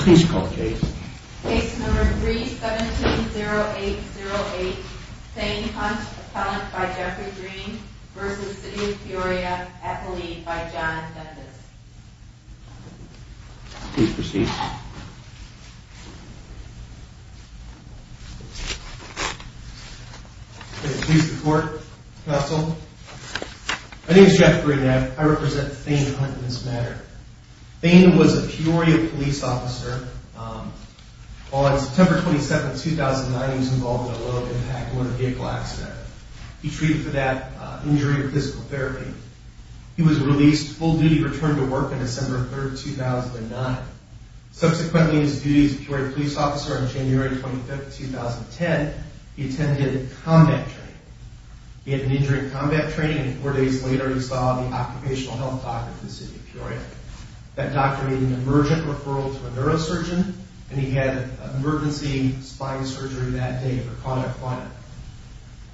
Please call the case. Case number 3-17-0808. Thane Hunt, appellant by Jeffrey Green v. City of Peoria, at the lead by John Genesis. Please proceed. Police report, counsel. My name is Jeffrey Green. I represent Thane Hunt in this matter. Thane was a Peoria police officer. On September 27, 2009, he was involved in a low-impact motor vehicle accident. He treated for that injury with physical therapy. He was released, full duty, returned to work on December 3, 2009. Subsequently, in his duty as a Peoria police officer, on January 25, 2010, he attended combat training. He had an injury in combat training, and four days later, he saw the occupational health doctor in the city of Peoria. That doctor made an emergent referral to a neurosurgeon, and he had emergency spine surgery that day for cauda equina.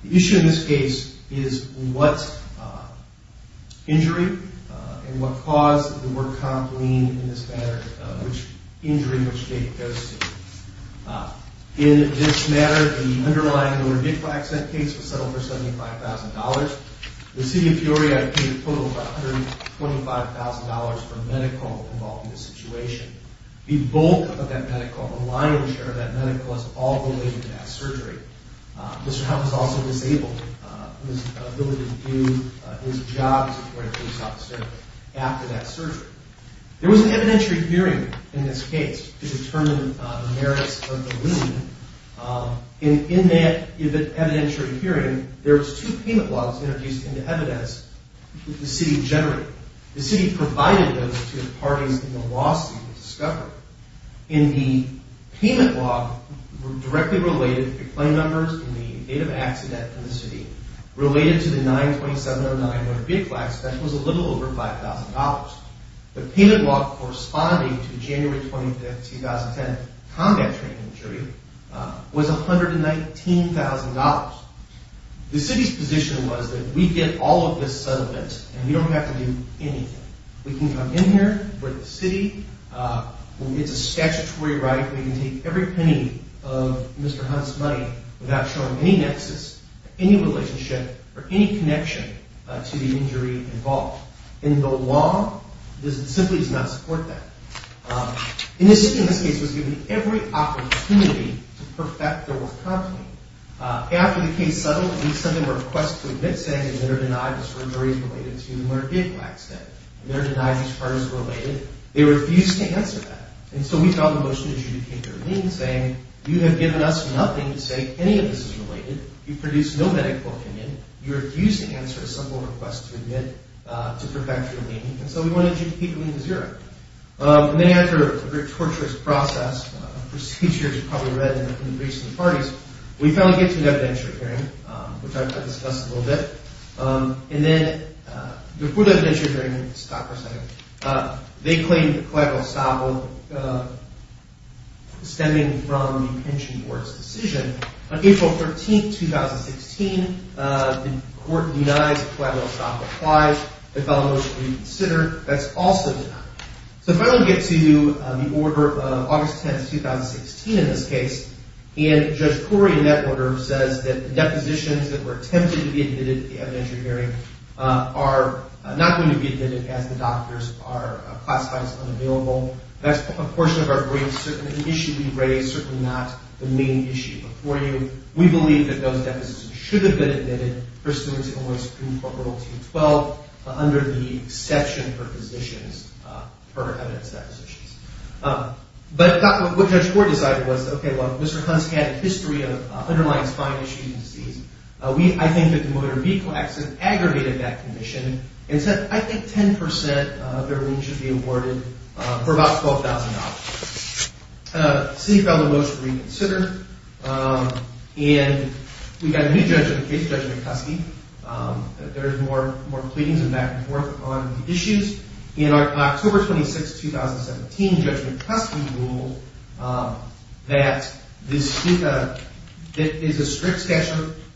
The issue in this case is what injury and what caused the work comp lien in this matter, which injury and which date it goes to. In this matter, the underlying motor vehicle accident case was settled for $75,000. The city of Peoria had paid a total of $125,000 for medical involved in this situation. The bulk of that medical, the lion's share of that medical, is all related to that surgery. Mr. Hunt was also disabled in his ability to do his job as a Peoria police officer after that surgery. There was an evidentiary hearing in this case to determine the merits of the lien. In that evidentiary hearing, there was two payment models introduced into evidence that the city generated. The city provided those to the parties in the lawsuit to discover. In the payment log, directly related to claim numbers and the date of accident in the city, related to the 9-2709 motor vehicle accident, that was a little over $5,000. The payment log corresponding to January 25, 2010, combat training injury, was $119,000. The city's position was that we get all of this settlement and we don't have to do anything. We can come in here, we're the city, it's a statutory right, we can take every penny of Mr. Hunt's money without showing any nexus, any relationship, or any connection to the injury involved. In the law, it simply does not support that. And the city, in this case, was given every opportunity to perfect their work content. After the case settled, we sent them a request to admit saying, they're denied this surgery is related to the motor vehicle accident. They're denied this part is related. They refused to answer that. And so we filed a motion to adjudicate their lien saying, you have given us nothing to say any of this is related. You've produced no medical opinion. You refuse to answer a simple request to admit to perfect your lien. And so we wanted to adjudicate the lien to zero. And then after a very torturous process, procedures you've probably read in the recent parties, we finally get to an evidentiary hearing, which I've discussed a little bit. And then, before the evidentiary hearing, stop for a second, they claim collateral assault stemming from the pension board's decision. On April 13, 2016, the court denies collateral assault applies. They filed a motion to reconsider. That's also denied. So if I don't get to the order of August 10, 2016 in this case, and Judge Koury in that order says that the depositions that were attempted to be admitted to the evidentiary hearing are not going to be admitted as the doctors are classified as unavailable, that's a portion of our briefs. It's certainly an issue we've raised, certainly not the main issue before you. We believe that those deposits should have been admitted pursuant to the Supreme Court Rule 212 under the exception for physicians for evidence depositions. But what Judge Koury decided was, okay, well, Mr. Hunts had a history of underlying spine issues and disease. I think that the motor vehicle accident aggravated that condition and said I think 10% of their lien should be awarded for about $12,000. The city filed a motion to reconsider, and we've got a new case, Judge McCuskey. There are more pleadings and back and forth on the issues. In October 26, 2017, Judge McCuskey ruled that this is a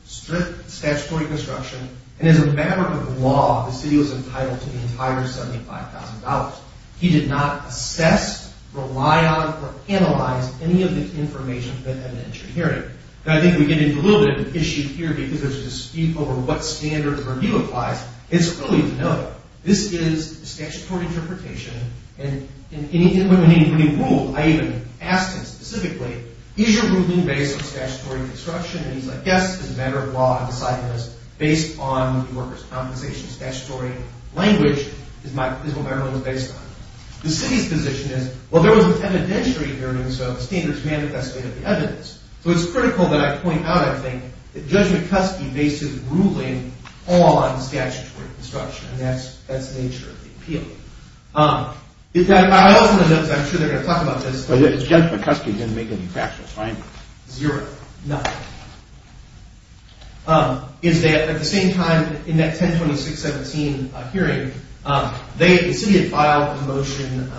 strict statutory construction, and as a matter of law, the city was entitled to the entire $75,000. He did not assess, rely on, or analyze any of the information at an entry hearing. And I think we get into a little bit of an issue here because as to speak over what standard the review applies, it's early to know. This is a statutory interpretation, and when he ruled, I even asked him specifically, is your ruling based on statutory construction? And he's like, yes, as a matter of law, I've decided it is based on New Yorker's Compensation. Statutory language is what my ruling is based on. The city's position is, well, there was an evidentiary hearing, so the standard is manifested in the evidence. So it's critical that I point out, I think, that Judge McCuskey based his ruling on statutory construction, and that's the nature of the appeal. I also want to note, because I'm sure they're going to talk about this. But Judge McCuskey didn't make any factual findings. Zero. None. At the same time, in that 10-26-17 hearing, the city had filed a motion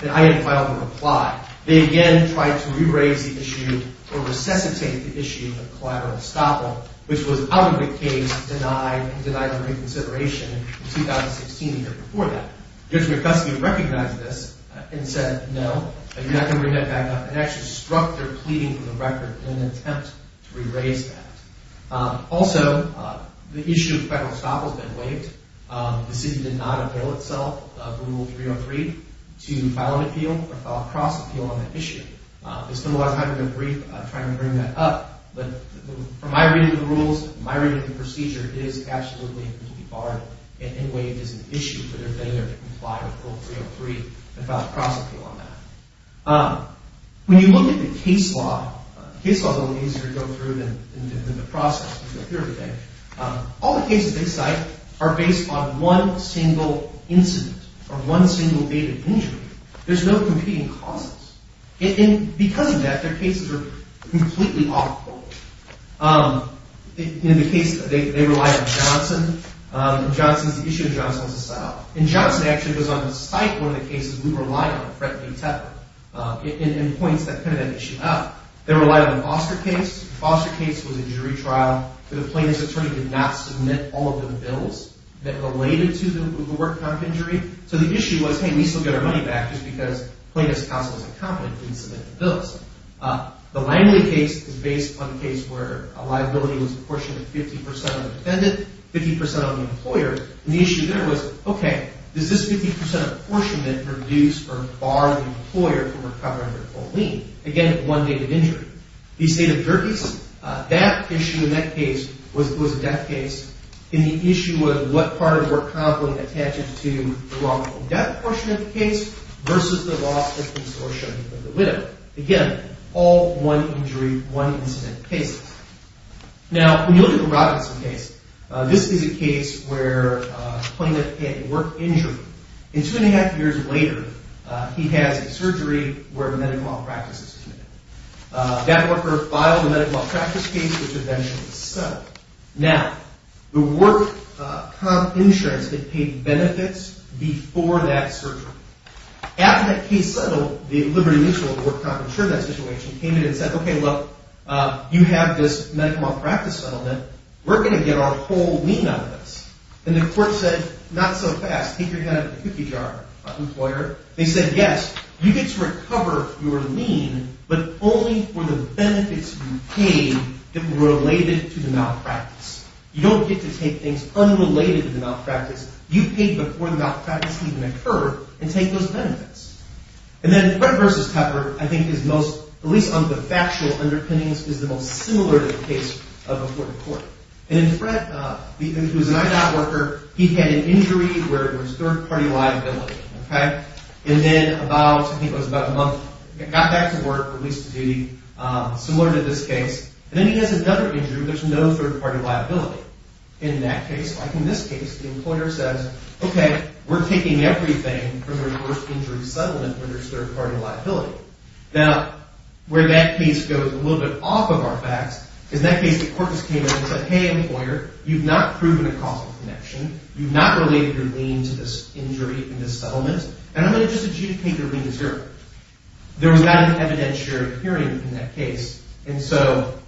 that I had filed in reply. They again tried to rephrase the issue or resuscitate the issue of collateral estoppel, which was out of the case, denied, and denied a reconsideration in 2016, the year before that. Judge McCuskey recognized this and said, no, you're not going to bring that back up, and actually struck their pleading for the record in an attempt to re-raise that. Also, the issue of federal estoppel has been waived. The city did not avail itself of Rule 303 to file an appeal or file a cross-appeal on the issue. I spent a lot of time doing a brief trying to bring that up. But from my reading of the rules, my reading of the procedure, it is absolutely and completely barred and waived as an issue for their failure to comply with Rule 303 and file a cross-appeal on that. When you look at the case law, the case law is a little easier to go through than the process. All the cases they cite are based on one single incident or one single date of injury. There's no competing causes. And because of that, their cases are completely off-quote. In the case, they rely on Johnson. The issue of Johnson is a set-up. And Johnson actually goes on to cite one of the cases we relied on, Fred A. Tepper, and points that issue out. They relied on the Foster case. The Foster case was a jury trial. The plaintiff's attorney did not submit all of the bills that related to the work comp injury. So the issue was, hey, we still get our money back just because plaintiff's counsel is incompetent and didn't submit the bills. The Langley case is based on a case where a liability was apportioned to 50 percent of the defendant, 50 percent of the employer. And the issue there was, okay, does this 50 percent apportionment reduce or bar the employer from recovering their full lien? Again, one date of injury. These date of juries, that issue in that case was a death case, and the issue was what part of the work comp would attach it to the lawful death portion of the case versus the lawful consortium of the widow. Again, all one injury, one incident cases. Now, when you look at the Robinson case, this is a case where a plaintiff had a work injury. And two and a half years later, he has a surgery where medical malpractice is committed. That worker filed a medical malpractice case, which eventually was settled. Now, the work comp insurance had paid benefits before that surgery. After that case settled, the liberty mutual of the work comp insured that situation, came in and said, okay, look, you have this medical malpractice settlement. We're going to get our whole lien out of this. And the court said, not so fast. Take your hand out of the cookie jar, employer. They said, yes, you get to recover your lien, but only for the benefits you paid that were related to the malpractice. You don't get to take things unrelated to the malpractice. And then Fred versus Pepper, I think his most, at least on the factual underpinnings, is the most similar to the case of a court of court. And Fred, who's an IDOT worker, he had an injury where it was third-party liability. And then about, I think it was about a month, got back to work, released to duty, similar to this case. And then he has another injury where there's no third-party liability in that case. Like in this case, the employer says, okay, we're taking everything from the reverse injury settlement when there's third-party liability. Now, where that case goes a little bit off of our facts is that case the court just came in and said, hey, employer, you've not proven a causal connection. You've not related your lien to this injury in this settlement. And I'm going to just adjudicate your lien as your own. There was not an evidentiary hearing in that case. And so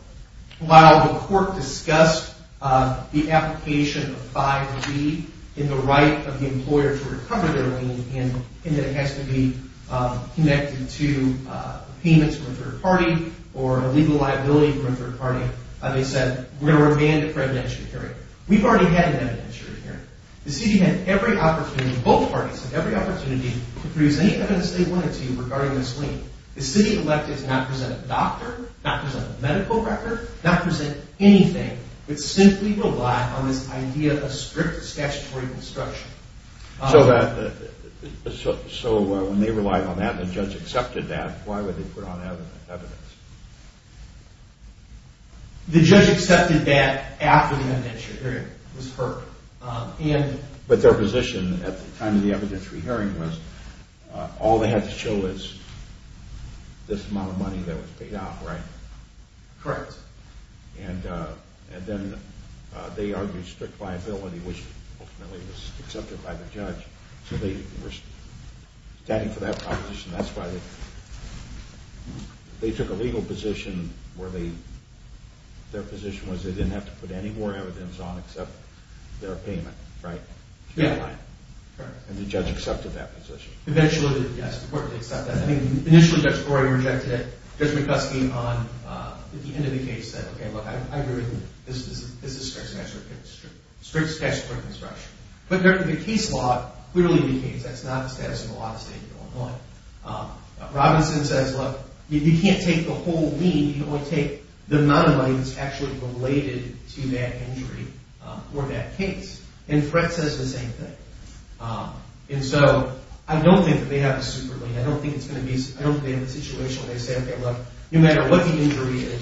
while the court discussed the application of 5B in the right of the employer to recover their lien and that it has to be connected to payments from a third-party or a legal liability from a third-party, they said we're going to remand it for evidentiary hearing. We've already had an evidentiary hearing. The city had every opportunity, both parties had every opportunity to produce any evidence they wanted to regarding this lien. The city elected to not present a doctor, not present a medical record, not present anything, but simply rely on this idea of strict statutory construction. So when they relied on that and the judge accepted that, why would they put on evidence? The judge accepted that after the evidentiary hearing was heard. But their position at the time of the evidentiary hearing was all they had to show was this amount of money that was paid off, right? Correct. And then they argued strict liability, which ultimately was accepted by the judge. So they were standing for that proposition. That's why they took a legal position where their position was they didn't have to put any more evidence on except their payment, right? Yeah, correct. And the judge accepted that position. Eventually, yes, the court did accept that. I mean, initially, Judge Brewer rejected it. Judge McCuskey, at the end of the case, said, okay, look, I agree with you. This is strict statutory construction. But the case law clearly indicates that's not the status of the law in the state of Illinois. Robinson says, look, you can't take the whole lien. You can only take the amount of money that's actually related to that injury or that case. And Fretz says the same thing. And so I don't think that they have a super lien. I don't think they have a situation where they say, okay, look, no matter what the injury is,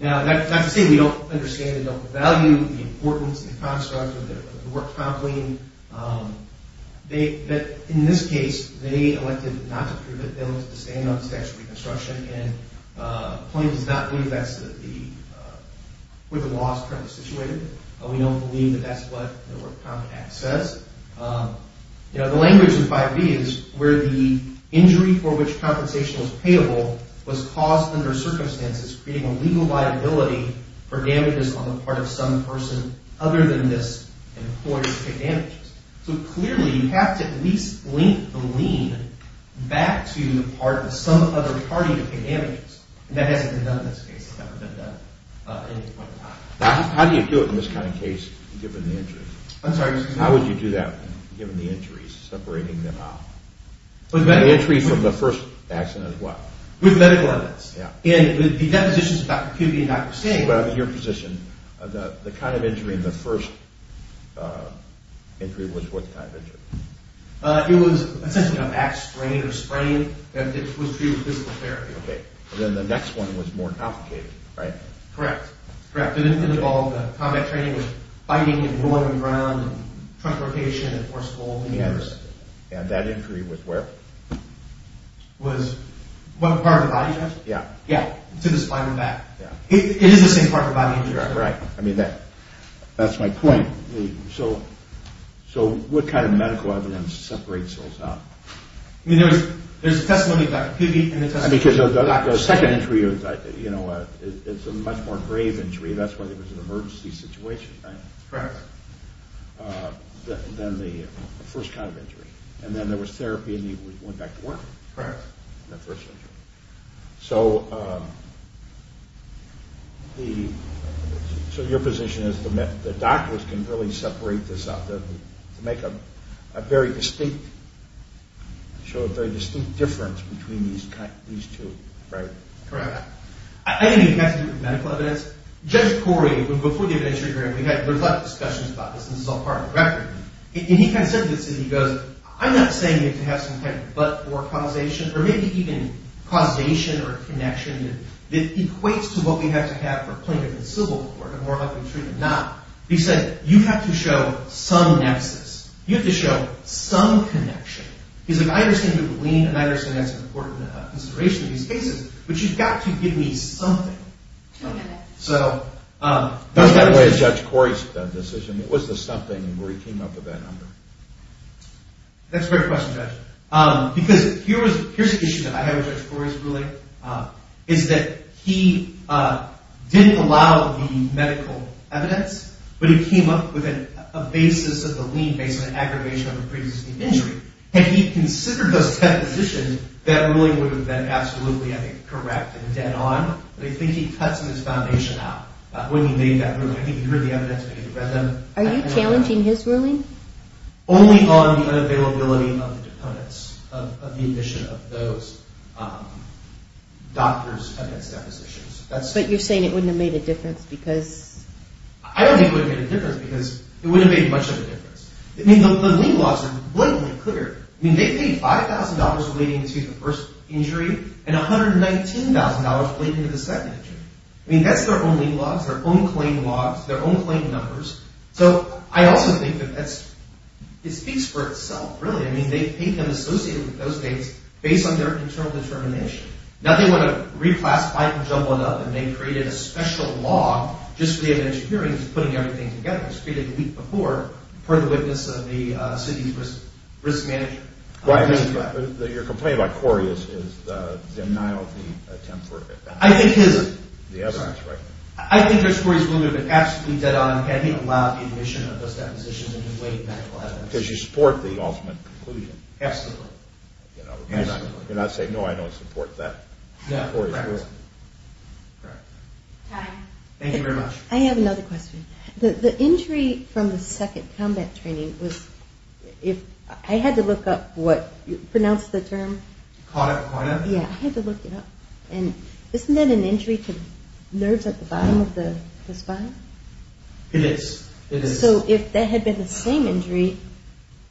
Now, not to say we don't understand the value, the importance, the construct of the work comp lien. But in this case, they elected not to approve it. They elected to stand on statutory construction. And the plaintiff does not believe that's where the law is currently situated. We don't believe that that's what the work comp act says. You know, the language in 5B is where the injury for which compensation was payable was caused under circumstances, creating a legal liability for damages on the part of some person other than this employer to take damages. So clearly, you have to at least link the lien back to the part of some other party to take damages. And that hasn't been done in this case. It's never been done at any point in time. How do you do it in this kind of case, given the injury? I'm sorry. How would you do that, given the injuries, separating them out? The entry from the first accident is what? With medical evidence. Yeah. And the depositions of Dr. Pubey and Dr. Singh. But I mean, your position, the kind of injury in the first injury was what kind of injury? It was essentially a back sprain or sprain, and it was treated with physical therapy. Okay. And then the next one was more complicated, right? Correct. Correct. It involved combat training with fighting and rolling around and trunk rotation and force pull. Yes. And that injury was where? Was what part of the body, Jeff? Yeah. Yeah. To the spine and back. Yeah. It is the same part of the body injury. Right. I mean, that's my point. So what kind of medical evidence separates those out? I mean, there's a testimony of Dr. Pubey and a testimony of Dr. Singh. Because the second injury is a much more grave injury. That's when it was an emergency situation, right? Correct. Then the first kind of injury. And then there was therapy and he went back to work. Correct. The first injury. So your position is the doctors can really separate this out to make a very distinct, show a very distinct difference between these two. Right. Correct. I think it has to do with medical evidence. Judge Corey, before the injury hearing, we had a lot of discussions about this and this is all part of the record. And he kind of said to the city, he goes, I'm not saying you have to have some kind of but or causation or maybe even causation or connection that equates to what we have to have for plaintiff and civil court and more likely treatment not. He said, you have to show some nexus. You have to show some connection. He's like, I understand you believe and I understand that's an important consideration in these cases, but you've got to give me something. Okay. So. Not that way as Judge Corey's decision. It was the something where he came up with that number. That's a great question, Judge. Because here's the issue that I have with Judge Corey's ruling is that he didn't allow the medical evidence, but he came up with a basis of the lien based on an aggravation of a previous injury. Had he considered those ten positions, that ruling would have been absolutely, I think, correct and dead on. But I think he cuts his foundation out when he made that ruling. I think you heard the evidence. Are you challenging his ruling? Only on the unavailability of the deponents, of the admission of those doctors against their positions. But you're saying it wouldn't have made a difference because. I don't think it would have made a difference because it wouldn't have made much of a difference. I mean, the lien laws are blatantly clear. I mean, they paid $5,000 relating to the first injury and $119,000 relating to the second injury. I mean, that's their own lien laws, their own claim laws, their own claim numbers. So I also think that that's – it speaks for itself, really. I mean, they paid them associated with those dates based on their internal determination. Now they want to reclassify and jumble it up, and they created a special law just for the evidentiary hearings of putting everything together. It was created the week before, per the witness of the city's risk manager. Right. Your complaint about Corey is the denial of the attempt for – I think his – The evidence, right? I think that Corey is absolutely dead on having allowed the admission of those depositions in the wake of medical evidence. Because you support the ultimate conclusion. Absolutely. You're not saying, no, I don't support that. No, correct. Corey is wrong. Right. Thank you very much. I have another question. The injury from the second combat training was – I had to look up what – pronounce the term. Cauda? Yeah, I had to look it up. And isn't that an injury to nerves at the bottom of the spine? It is. So if that had been the same injury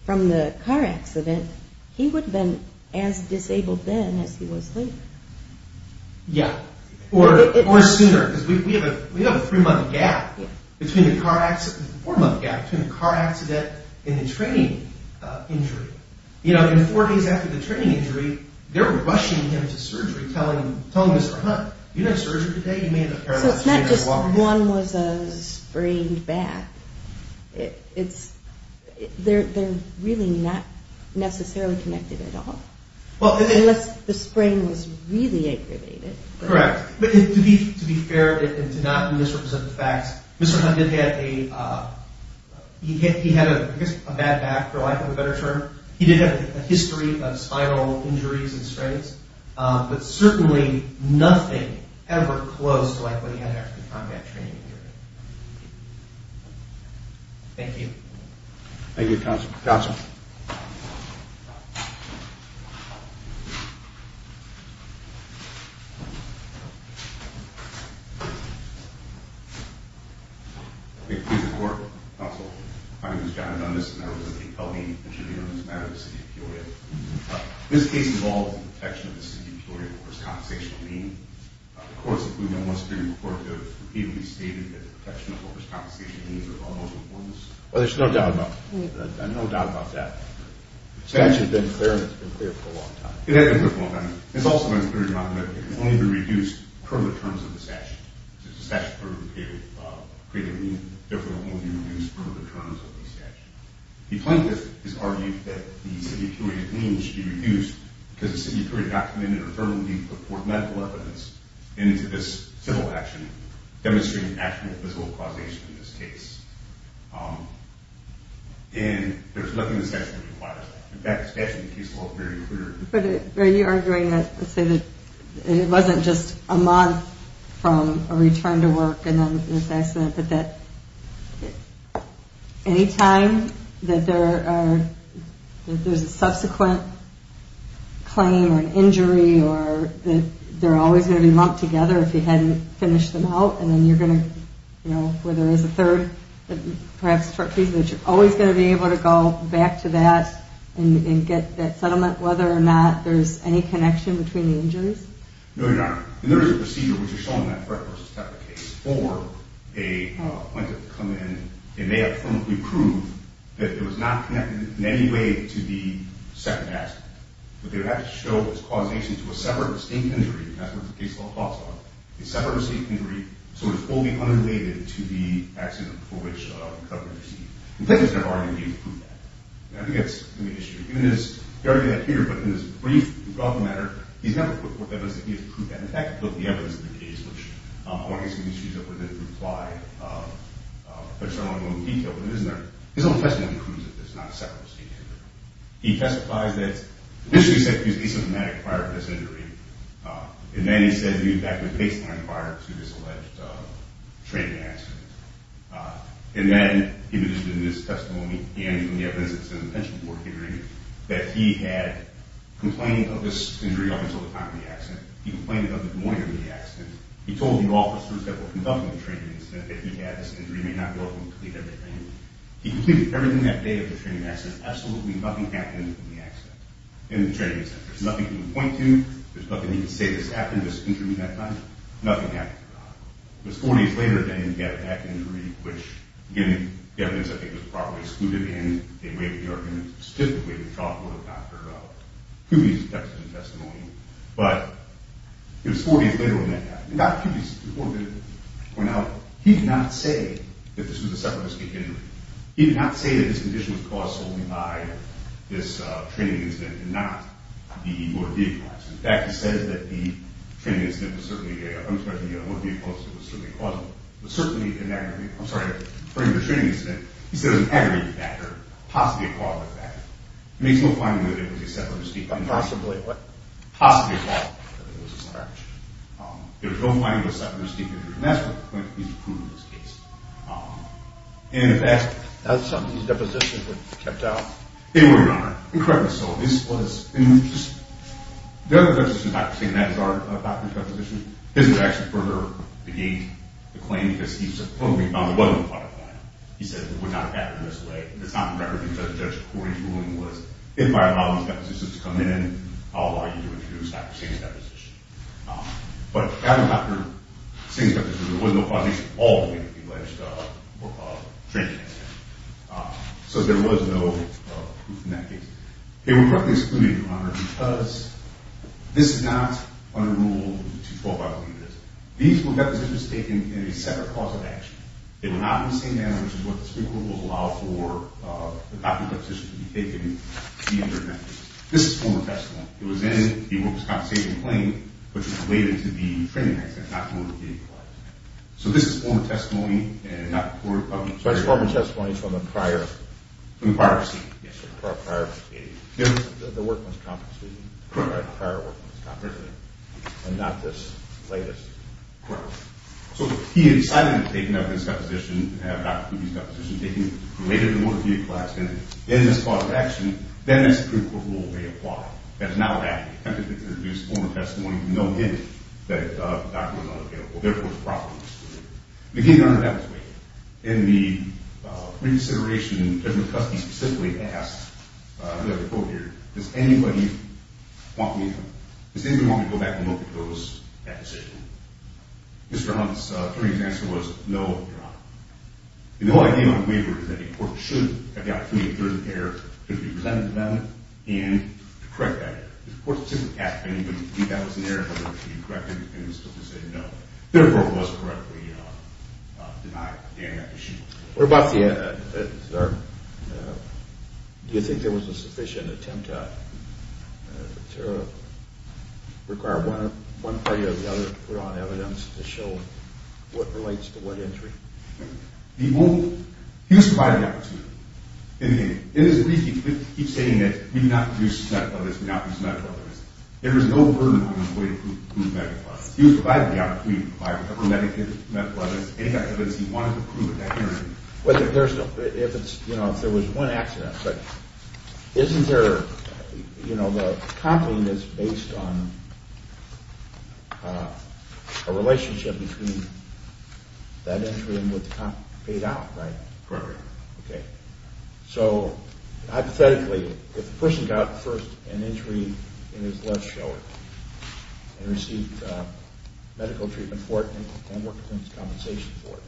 from the car accident, he would have been as disabled then as he was later. Yeah. Or sooner. Because we have a three-month gap between the car – four-month gap between the car accident and the training injury. You know, in four days after the training injury, they're rushing him to surgery, telling Mr. Hunt, do you have surgery today? So it's not just one was a sprained back. It's – they're really not necessarily connected at all. Unless the sprain was really aggravated. Correct. But to be fair and to not misrepresent the facts, Mr. Hunt did have a – he had a bad back for lack of a better term. He did have a history of spinal injuries and sprains. But certainly nothing ever close to like what he had after the combat training injury. Thank you. Thank you, Counsel. Counsel. Please report, Counsel. My name is John Dundas, and I was at the L.E.A.N. interview on this matter in the city of Peoria. This case involves the protection of the city of Peoria for its compensational lien. The courts, including the West Virginia court, have repeatedly stated that the protection of overcompensation liens are of utmost importance. Well, there's no doubt about – no doubt about that. It's actually been clear, and it's been clear for a long time. It has been clear for a long time. It's also been clear, Your Honor, that it can only be reduced per the terms of the statute. It's the statute that created the lien. Therefore, it can only be reduced per the terms of the statute. The plaintiff has argued that the city of Peoria lien should be reduced because the city of Peoria documented or firmly put forth medical evidence into this civil action, demonstrating actual physical causation in this case. And there's nothing the statute requires. In fact, the statute in the case law is very clear. But are you arguing that – let's say that it wasn't just a month from a return to work and then this accident, but that any time that there are – that there's a subsequent claim or an injury or that they're always going to be lumped together if you hadn't finished them out, and then you're going to – you know, where there is a third, perhaps short piece, that you're always going to be able to go back to that and get that settlement, whether or not there's any connection between the injuries? No, Your Honor. And there is a procedure, which is shown in that threat versus type of case, for a plaintiff to come in and they have to firmly prove that it was not connected in any way to the second accident. But they would have to show its causation to a separate distinct injury, and that's what the case law talks about, a separate distinct injury, sort of fully unrelated to the accident for which the government received it. The plaintiff has never argued that he has proved that. I think that's an issue. He argued that here, but in this brief, rough matter, he's never put forth evidence that he has proved that. In fact, he put the evidence in the case, which I want to get some of these issues up with in reply. But it's not all in detail. But his own testimony proves that there's not a separate distinct injury. He testifies that the district said he was asymptomatic prior to this injury, and then he said he was back with baseline prior to this alleged training accident. And then, in addition to this testimony and from the evidence that's in the pension board hearing, that he had complained of this injury up until the time of the accident. He complained of it the morning of the accident. He told the officers that were conducting the training that he had this injury, he may not be able to complete everything. He completed everything that day of the training accident. Absolutely nothing happened in the accident, in the training accident. There's nothing he can point to. There's nothing he can say that's happened in this injury at that time. Nothing happened. It was four days later, then he had a back injury, which, again, the evidence, I think, was probably excluded in a way that we are going to stipulate, which I'll go to Dr. Kuby's text and testimony. But it was four days later when that happened. And Dr. Kuby's report did point out he did not say that this was a separate distinct injury. He did not say that this condition was caused solely by this training incident and not the motor vehicle accident. In fact, he says that the training incident was certainly a – I'm just mentioning the motor vehicle accident was certainly a causal – was certainly an aggravated – I'm sorry, I'm referring to the training incident. He said it was an aggravated back injury, possibly a causal back injury. It makes no finding that it was a separate distinct injury. Possibly a what? Possibly a causal back injury. It was no finding that it was a separate distinct injury. And that's what he's proved in this case. And in fact – And some of these depositions were kept out. They were not. Correct. So this was – and just – the other judge, Dr. Singh, that started Dr. Kuby's deposition, didn't actually further the gate, the claim, because he supposedly found there was no part of that. He said it would not have happened this way. And it's not in record because Judge Corey's ruling was, if I allow these depositions to come in, I'll allow you to introduce Dr. Singh's deposition. But after Dr. Singh's deposition, there was no causation all the way to the alleged training incident. So there was no proof in that case. They were correctly excluded, Your Honor, because this is not under Rule 212, I believe it is. These were depositions taken in a separate cause of action. They were not in the same manner, which is what the Supreme Court will allow for the doctor's deposition to be taken to be interdicted. This is former testimony. It was in the workers' compensation claim, which is related to the training accident, not the motor vehicle accident. So this is former testimony, and not the court... So it's former testimony from the prior... From the prior proceeding. Yes, sir, from the prior proceeding. The workman's compensation. Correct. The prior workman's compensation, and not this latest. Correct. So if he had decided to take another deposition, have Dr. Kuby's deposition taken related to the motor vehicle accident, in this cause of action, then the Supreme Court rule may apply. That is not what happened. They attempted to introduce former testimony, but no hint that the doctor was unavailable. Therefore, it was a proper deposition. And again, Your Honor, that was waived. In the pre-consideration, Judge McCuskey specifically asked, I believe I have a quote here, does anybody want me to go back and look at that position? Mr. Hunt's, attorney's answer was, no, Your Honor. And the whole idea of a waiver is that the court should have the opportunity to get through the error, to be presented to them, and to correct that error. The court simply asked if that was an error, whether it should be corrected, and the Supreme Court said no. Therefore, it was correctly denied. What about the, sir, do you think there was a sufficient attempt to require one party or the other to put on evidence to show what relates to what injury? He was provided the opportunity. In his brief, he keeps saying that we do not produce medical evidence, we do not produce medical evidence. There was no burden on his way to prove medical evidence. He was provided the opportunity to provide medical evidence, any medical evidence he wanted to prove in that injury. Well, if there was one accident, but isn't there, you know, the company is based on a relationship between that injury and what the company paid out, right? Correct. Okay. So, hypothetically, if the person got first an injury in his left shoulder and received medical treatment for it and worked to get compensation for it,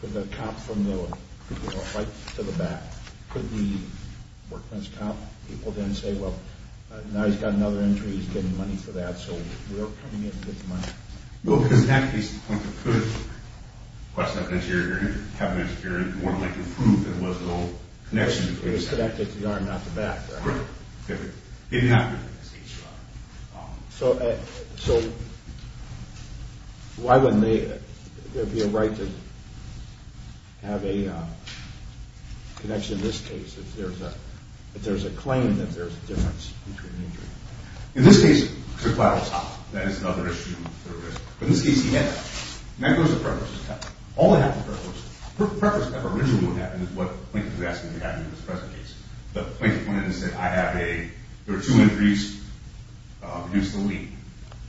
could the cop from the right to the back, could the workman's cop, people then say, well, now he's got another injury, he's getting money for that, so we're coming in to get the money? No, because in that case, the company could request that injury or have an injury and want to make a proof that it was an old connection between that injury. It was connected to the arm, not the back, right? Correct. So, why wouldn't there be a right to have a connection in this case if there's a claim that there's a difference between an injury? In this case, it's a collateral cost. That is another issue. But in this case, he had that. And that goes to preference. All that had to do with preference. Preference originally would have been what Plankton was asking to have in his present case. But Plankton went in and said, I have a, there are two injuries, reduce the lien.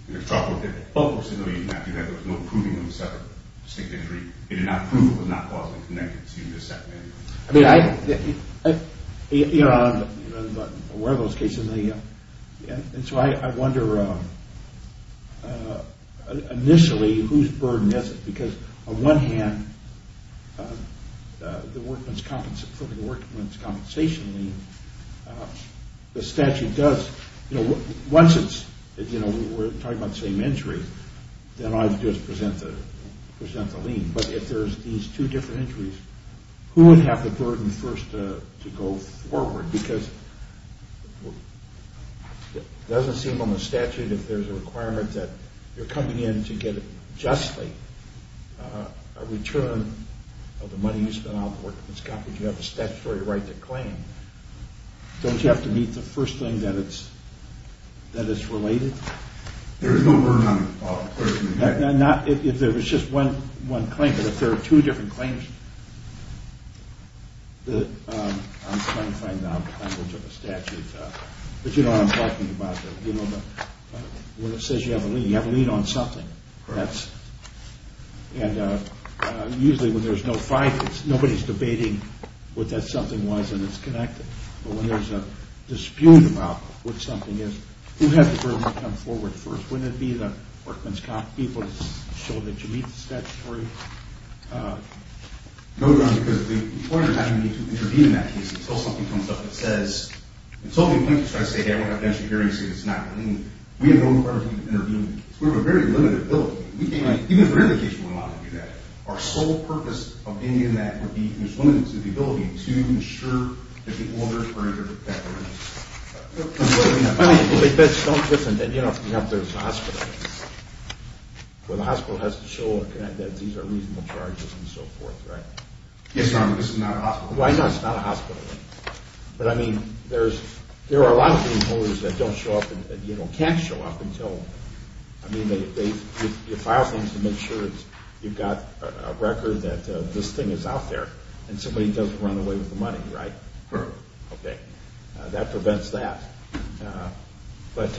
And the trouble with that, both folks said, no, you did not do that. There was no proving of a separate, distinct injury. They did not prove it was not causally connected to the second injury. I mean, I, you know, I'm aware of those cases. And so I wonder, initially, whose burden is it? Because on one hand, the workman's compensation lien, the statute does, you know, once it's, you know, we're talking about the same injury, then I just present the lien. But if there's these two different injuries, who would have the burden first to go forward? Because it doesn't seem on the statute, if there's a requirement that you're coming in to get it justly, a return of the money you spent on the workman's compensation, you have a statutory right to claim. Don't you have to meet the first thing that it's, that it's related? There is no burden on the person. If there was just one claim, but if there are two different claims, I'm trying to find out the language of the statute. But you know what I'm talking about. When it says you have a lien, you have a lien on something. And usually when there's no fight, nobody's debating what that something was and it's connected. But when there's a dispute about what something is, who has the burden to come forward first? Wouldn't it be the workman's comp people to show that you meet the statutory? No, because the employer doesn't need to intervene in that case until something comes up that says, until the employer tries to say, hey, I don't have the insurance, it's not a lien. We have no requirement to intervene in that case. We have a very limited ability. Even if there is a case where we want to do that, our sole purpose of being in that would be, there's limited to the ability to ensure that the owner or the debtor. I mean, but it's so different than, you know, if you have this hospital. Well, the hospital has to show that these are reasonable charges and so forth, right? Yes, but this is not a hospital. Well, I know it's not a hospital. But I mean, there are a lot of people that don't show up and can't show up until, I mean, you file things to make sure you've got a record that this thing is out there and somebody doesn't run away with the money, right? Correct. Okay. That prevents that. But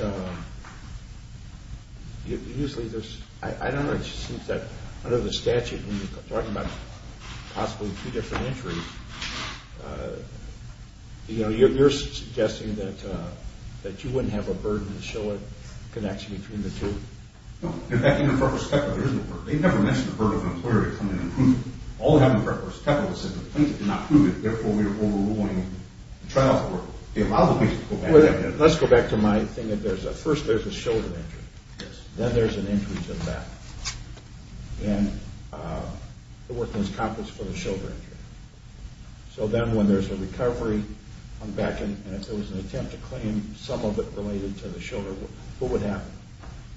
usually there's, I don't know, it just seems that under the statute, when you're talking about possibly two different entries, you know, you're suggesting that you wouldn't have a burden to show a connection between the two. No. In fact, in the first step, there isn't a burden. They never mention the burden of an employer to come in and prove it. All they have in front of us is the plaintiff did not prove it, therefore we are overruling the trial for it. Let's go back to my thing. First there's a shoulder injury. Yes. Then there's an injury to the back. And the work is accomplished for the shoulder injury. So then when there's a recovery on the back and if there was an attempt to claim some of it related to the shoulder, what would happen?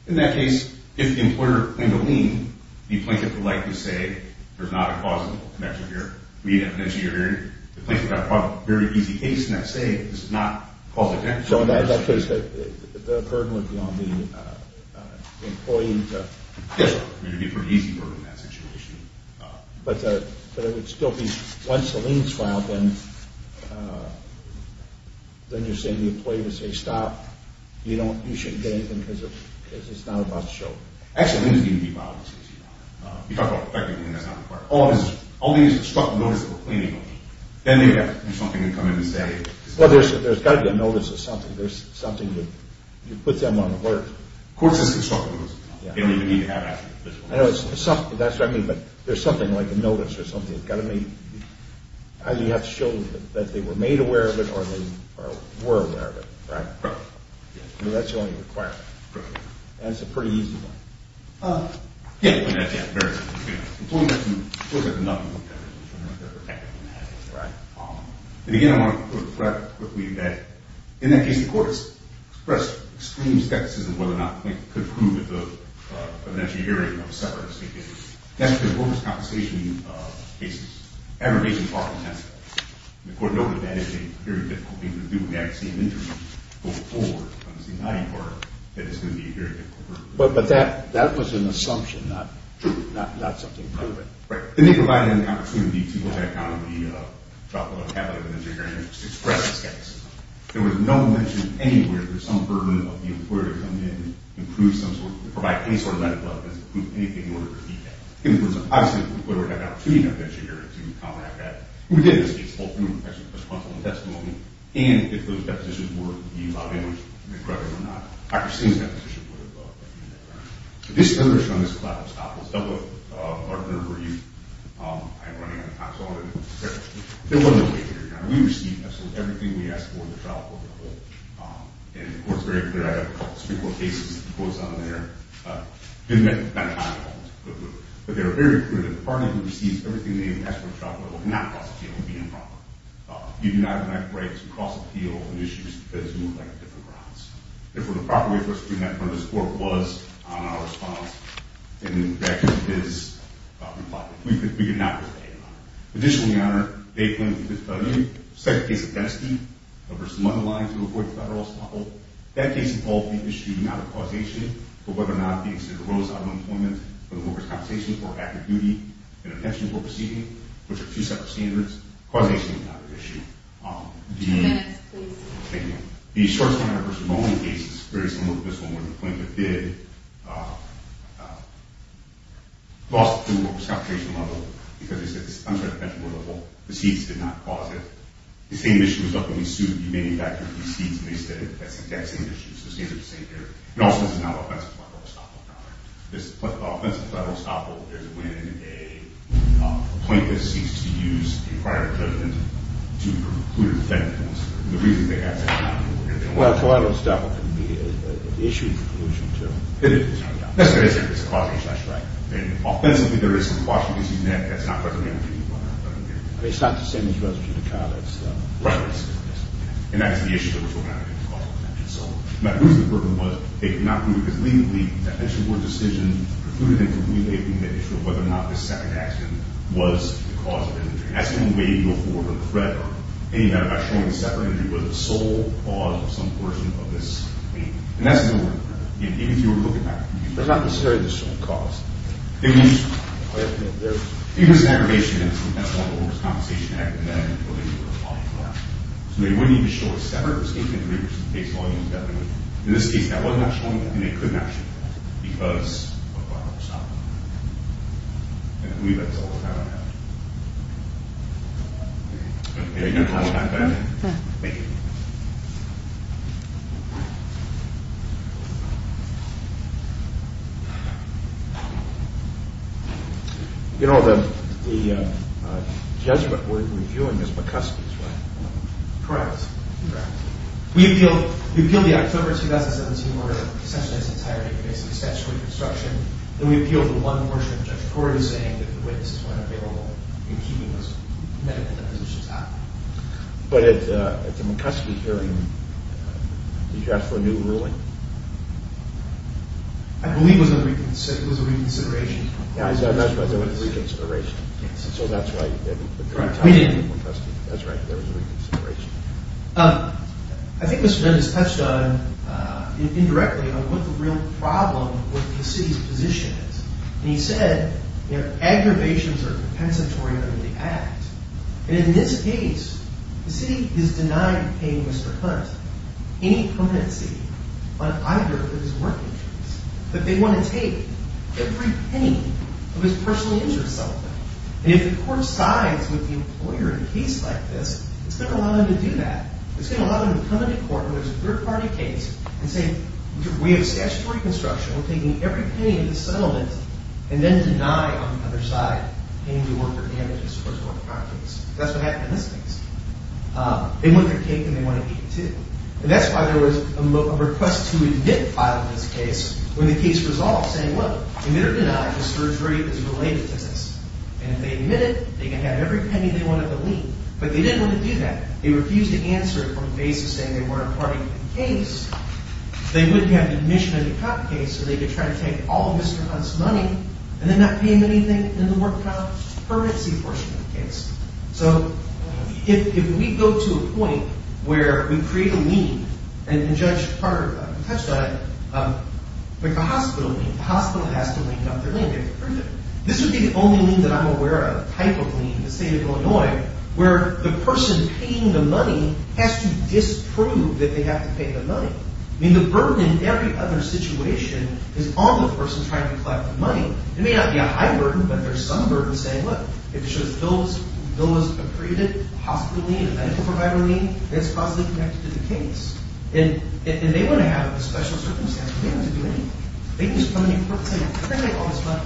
In that case, if the employer claimed a lien, the plaintiff would likely say there's not a plausible connection here. We didn't mention your injury. The plaintiff would have a very easy case in that state. This is not a plausible connection. So in that case, the burden would be on the employee to prove it. Yes. It would be a pretty easy burden in that situation. But it would still be, once the lien is filed, then you're saying the employee would say, stop, you shouldn't get anything because it's not about the shoulder. Actually, the lien is going to be filed. You talked about the fact that the lien is not required. All the instructive notice of the plaintiff, then they would have to do something to come in and say. Well, there's got to be a notice of something. There's something that you put them on alert. Court-assisted instructive notice. They don't even need to have that. I know. That's what I mean. But there's something like a notice or something that's got to be, you have to show that they were made aware of it or they were aware of it, right? Right. That's the only requirement. Correct. That's a pretty easy one. Yes. Yes. Very easy. Employee has to look at the numbers. Right. And, again, I want to put it rather quickly that, in that case, the court has expressed extreme skepticism whether or not they could prove at the eventual hearing of a separate state case. That's an enormous compensation case. Every case is far from that. The court noted that is a very difficult thing to do when you actually see an injury go forward that is going to be a very difficult thing to do. But that was an assumption, not something proven. Right. And they provided an opportunity to look back on the drop-off of capital at the eventual hearing and just express skepticism. There was no mention anywhere that some burden of the employer coming in could provide any sort of medical evidence to prove anything in order to repeat that. Obviously, the employer had an opportunity at the eventual hearing to comment on that. We did, in this case, hold them responsible in testimony. And if those depositions were to be allowed in, whether or not Dr. Singh's deposition would have been there. Right. This is another show on this cloud. Stop. Let's double up. Partner for you. I am running out of time. So I want to do this. There was a case here. Now, we received absolutely everything we asked for in the trial court level. And the court is very clear. I have a couple of Supreme Court cases and quotes on there. Didn't identify them all. But they were very clear that the party who received everything they asked for in the trial court level cannot possibly be improper. You do not have the right to cross-appeal on issues because you were on different grounds. If it were the proper way for us to do that in front of this court, it was on our response. And that is reflected. We could not restate it, Your Honor. Additionally, Your Honor, they claim that we could study the second case of Bensky versus Mulderline to avoid federal stoppage. That case involved the issue not of causation, but whether or not the extent of rose out of employment for the workers' compensation for active duty and attention for proceeding, which are two separate standards. Causation was not an issue. Two minutes, please. Thank you. These short-term versus long-term cases, very similar to this one, where the plaintiff did loss to the workers' compensation level because, as I mentioned, the seats did not cause it. The same issue was up when he sued. He made it back to the seats, and they said that's the exact same issue. So the seats are the same there. And also, this is not an offensive level stoppage, Your Honor. The offensive level stoppage is when a plaintiff seeks to use a prior judgment to preclude a defendant. The reason they have to do that is because they want to. Well, a federal stoppage can be an issue in conclusion, too. It is. That's what I said. It's a causation. That's right. And offensively, there is some causation in that. That's not what the manager did, Your Honor. It's not the same as reserving the college, though. Right. And that's the issue that was going on. My reason for them was they could not do it, because legally, that bench-reward decision precluded them from relaying the issue of whether or not this separate action was the cause of injury. That's the only way you can go forward with a threat, or any matter, by showing a separate injury was the sole cause of some portion of this claim. And that's the only way to do it. Even if you were looking at it. But not necessarily the sole cause. It was an aggravation, and that's the one where there was compensation added to that. So they wouldn't even show a separate statement of injury, which is the case of all injuries that we know of. In this case, that wasn't actually one of them, and they couldn't actually do that, because of a probable cause. And I believe that's all the time I have. Okay. Thank you. You know, the judgment we're reviewing is McCuskey's, right? Correct. Correct. We appealed the October 2017 order, essentially its entirety, against the statute of obstruction. And we appealed the one portion of the judge's court saying that the witnesses were unavailable in keeping those medical depositions out. But at the McCuskey hearing, did you ask for a new ruling? I believe it was a reconsideration. Yeah, that's right. It was a reconsideration. Yes. So that's right. Correct. We didn't. That's right. There was a reconsideration. I think Mr. Nunn has touched on, indirectly, what the real problem with the city's position is. And he said, you know, aggravations are compensatory under the Act. And in this case, the city has denied paying Mr. Hunt any permanency on either of his working days. But they want to take every penny of his personal insurance settlement. And if the court sides with the employer in a case like this, it's going to allow them to do that. It's going to allow them to come into court when there's a third-party case and say, we have statutory construction. We're taking every penny of the settlement and then deny, on the other side, paying the worker damages for a third-party case. That's what happened in this case. They want their cake and they want to eat it, too. And that's why there was a request to admit file in this case when the case was resolved, saying, well, admit or deny, the surgery is related to this. And if they admit it, they can have every penny they want at the lien. But they didn't want to do that. They refused to answer it on the basis of saying they weren't a third-party case. They wouldn't have admission in the cop case. So they could try to take all of Mr. Hunt's money and then not pay him anything in the work cop currency portion of the case. So if we go to a point where we create a lien, and Judge Carter touched on it, like the hospital lien. The hospital has to lien up their lien. This would be the only lien that I'm aware of, type of lien in the state of Illinois, where the person paying the money has to disprove that they have to pay the money. I mean, the burden in every other situation is on the person trying to collect the money. It may not be a high burden, but there's some burden saying, look, if it shows a bill was approved, a hospital lien, a medical provider lien, that's causally connected to the case. And they want to have a special circumstance. They don't have to do anything. They can just come to me and say, I'm going to take all this money,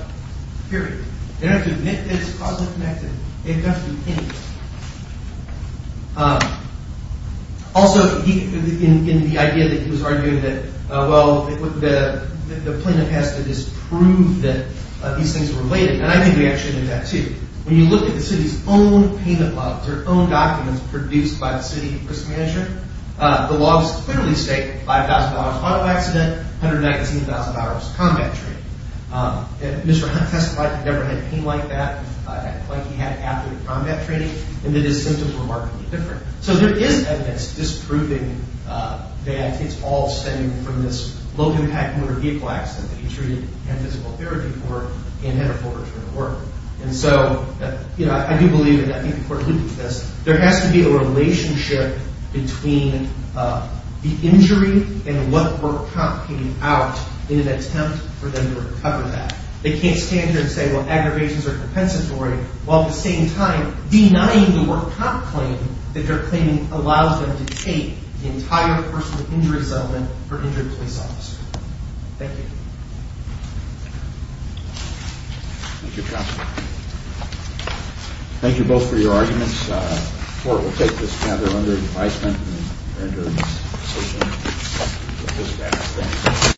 period. They don't have to admit that it's causally connected. They don't have to do anything. Also, in the idea that he was arguing that, well, the plaintiff has to disprove that these things are related. And I think we actually did that, too. When you look at the city's own payment logs, their own documents produced by the city risk manager, the logs clearly state $5,000 auto accident, $119,000 combat training. Mr. Hunt testified he never had pain like that, like he had after the combat training, and that his symptoms were markedly different. So there is evidence disproving that it's all stemming from this low-impact motor vehicle accident that he treated and had physical therapy for and had a full return to work. And so I do believe, and I think the court looked at this, there has to be a relationship between the injury and what the work cop paid out in an attempt for them to recover that. They can't stand here and say, well, aggravations are compensatory, while at the same time denying the work cop claim that their claiming allows them to take the entire personal injury settlement for injured police officers. Thank you. Thank you, Counselor. Thank you both for your arguments. The court will take this matter under advisement.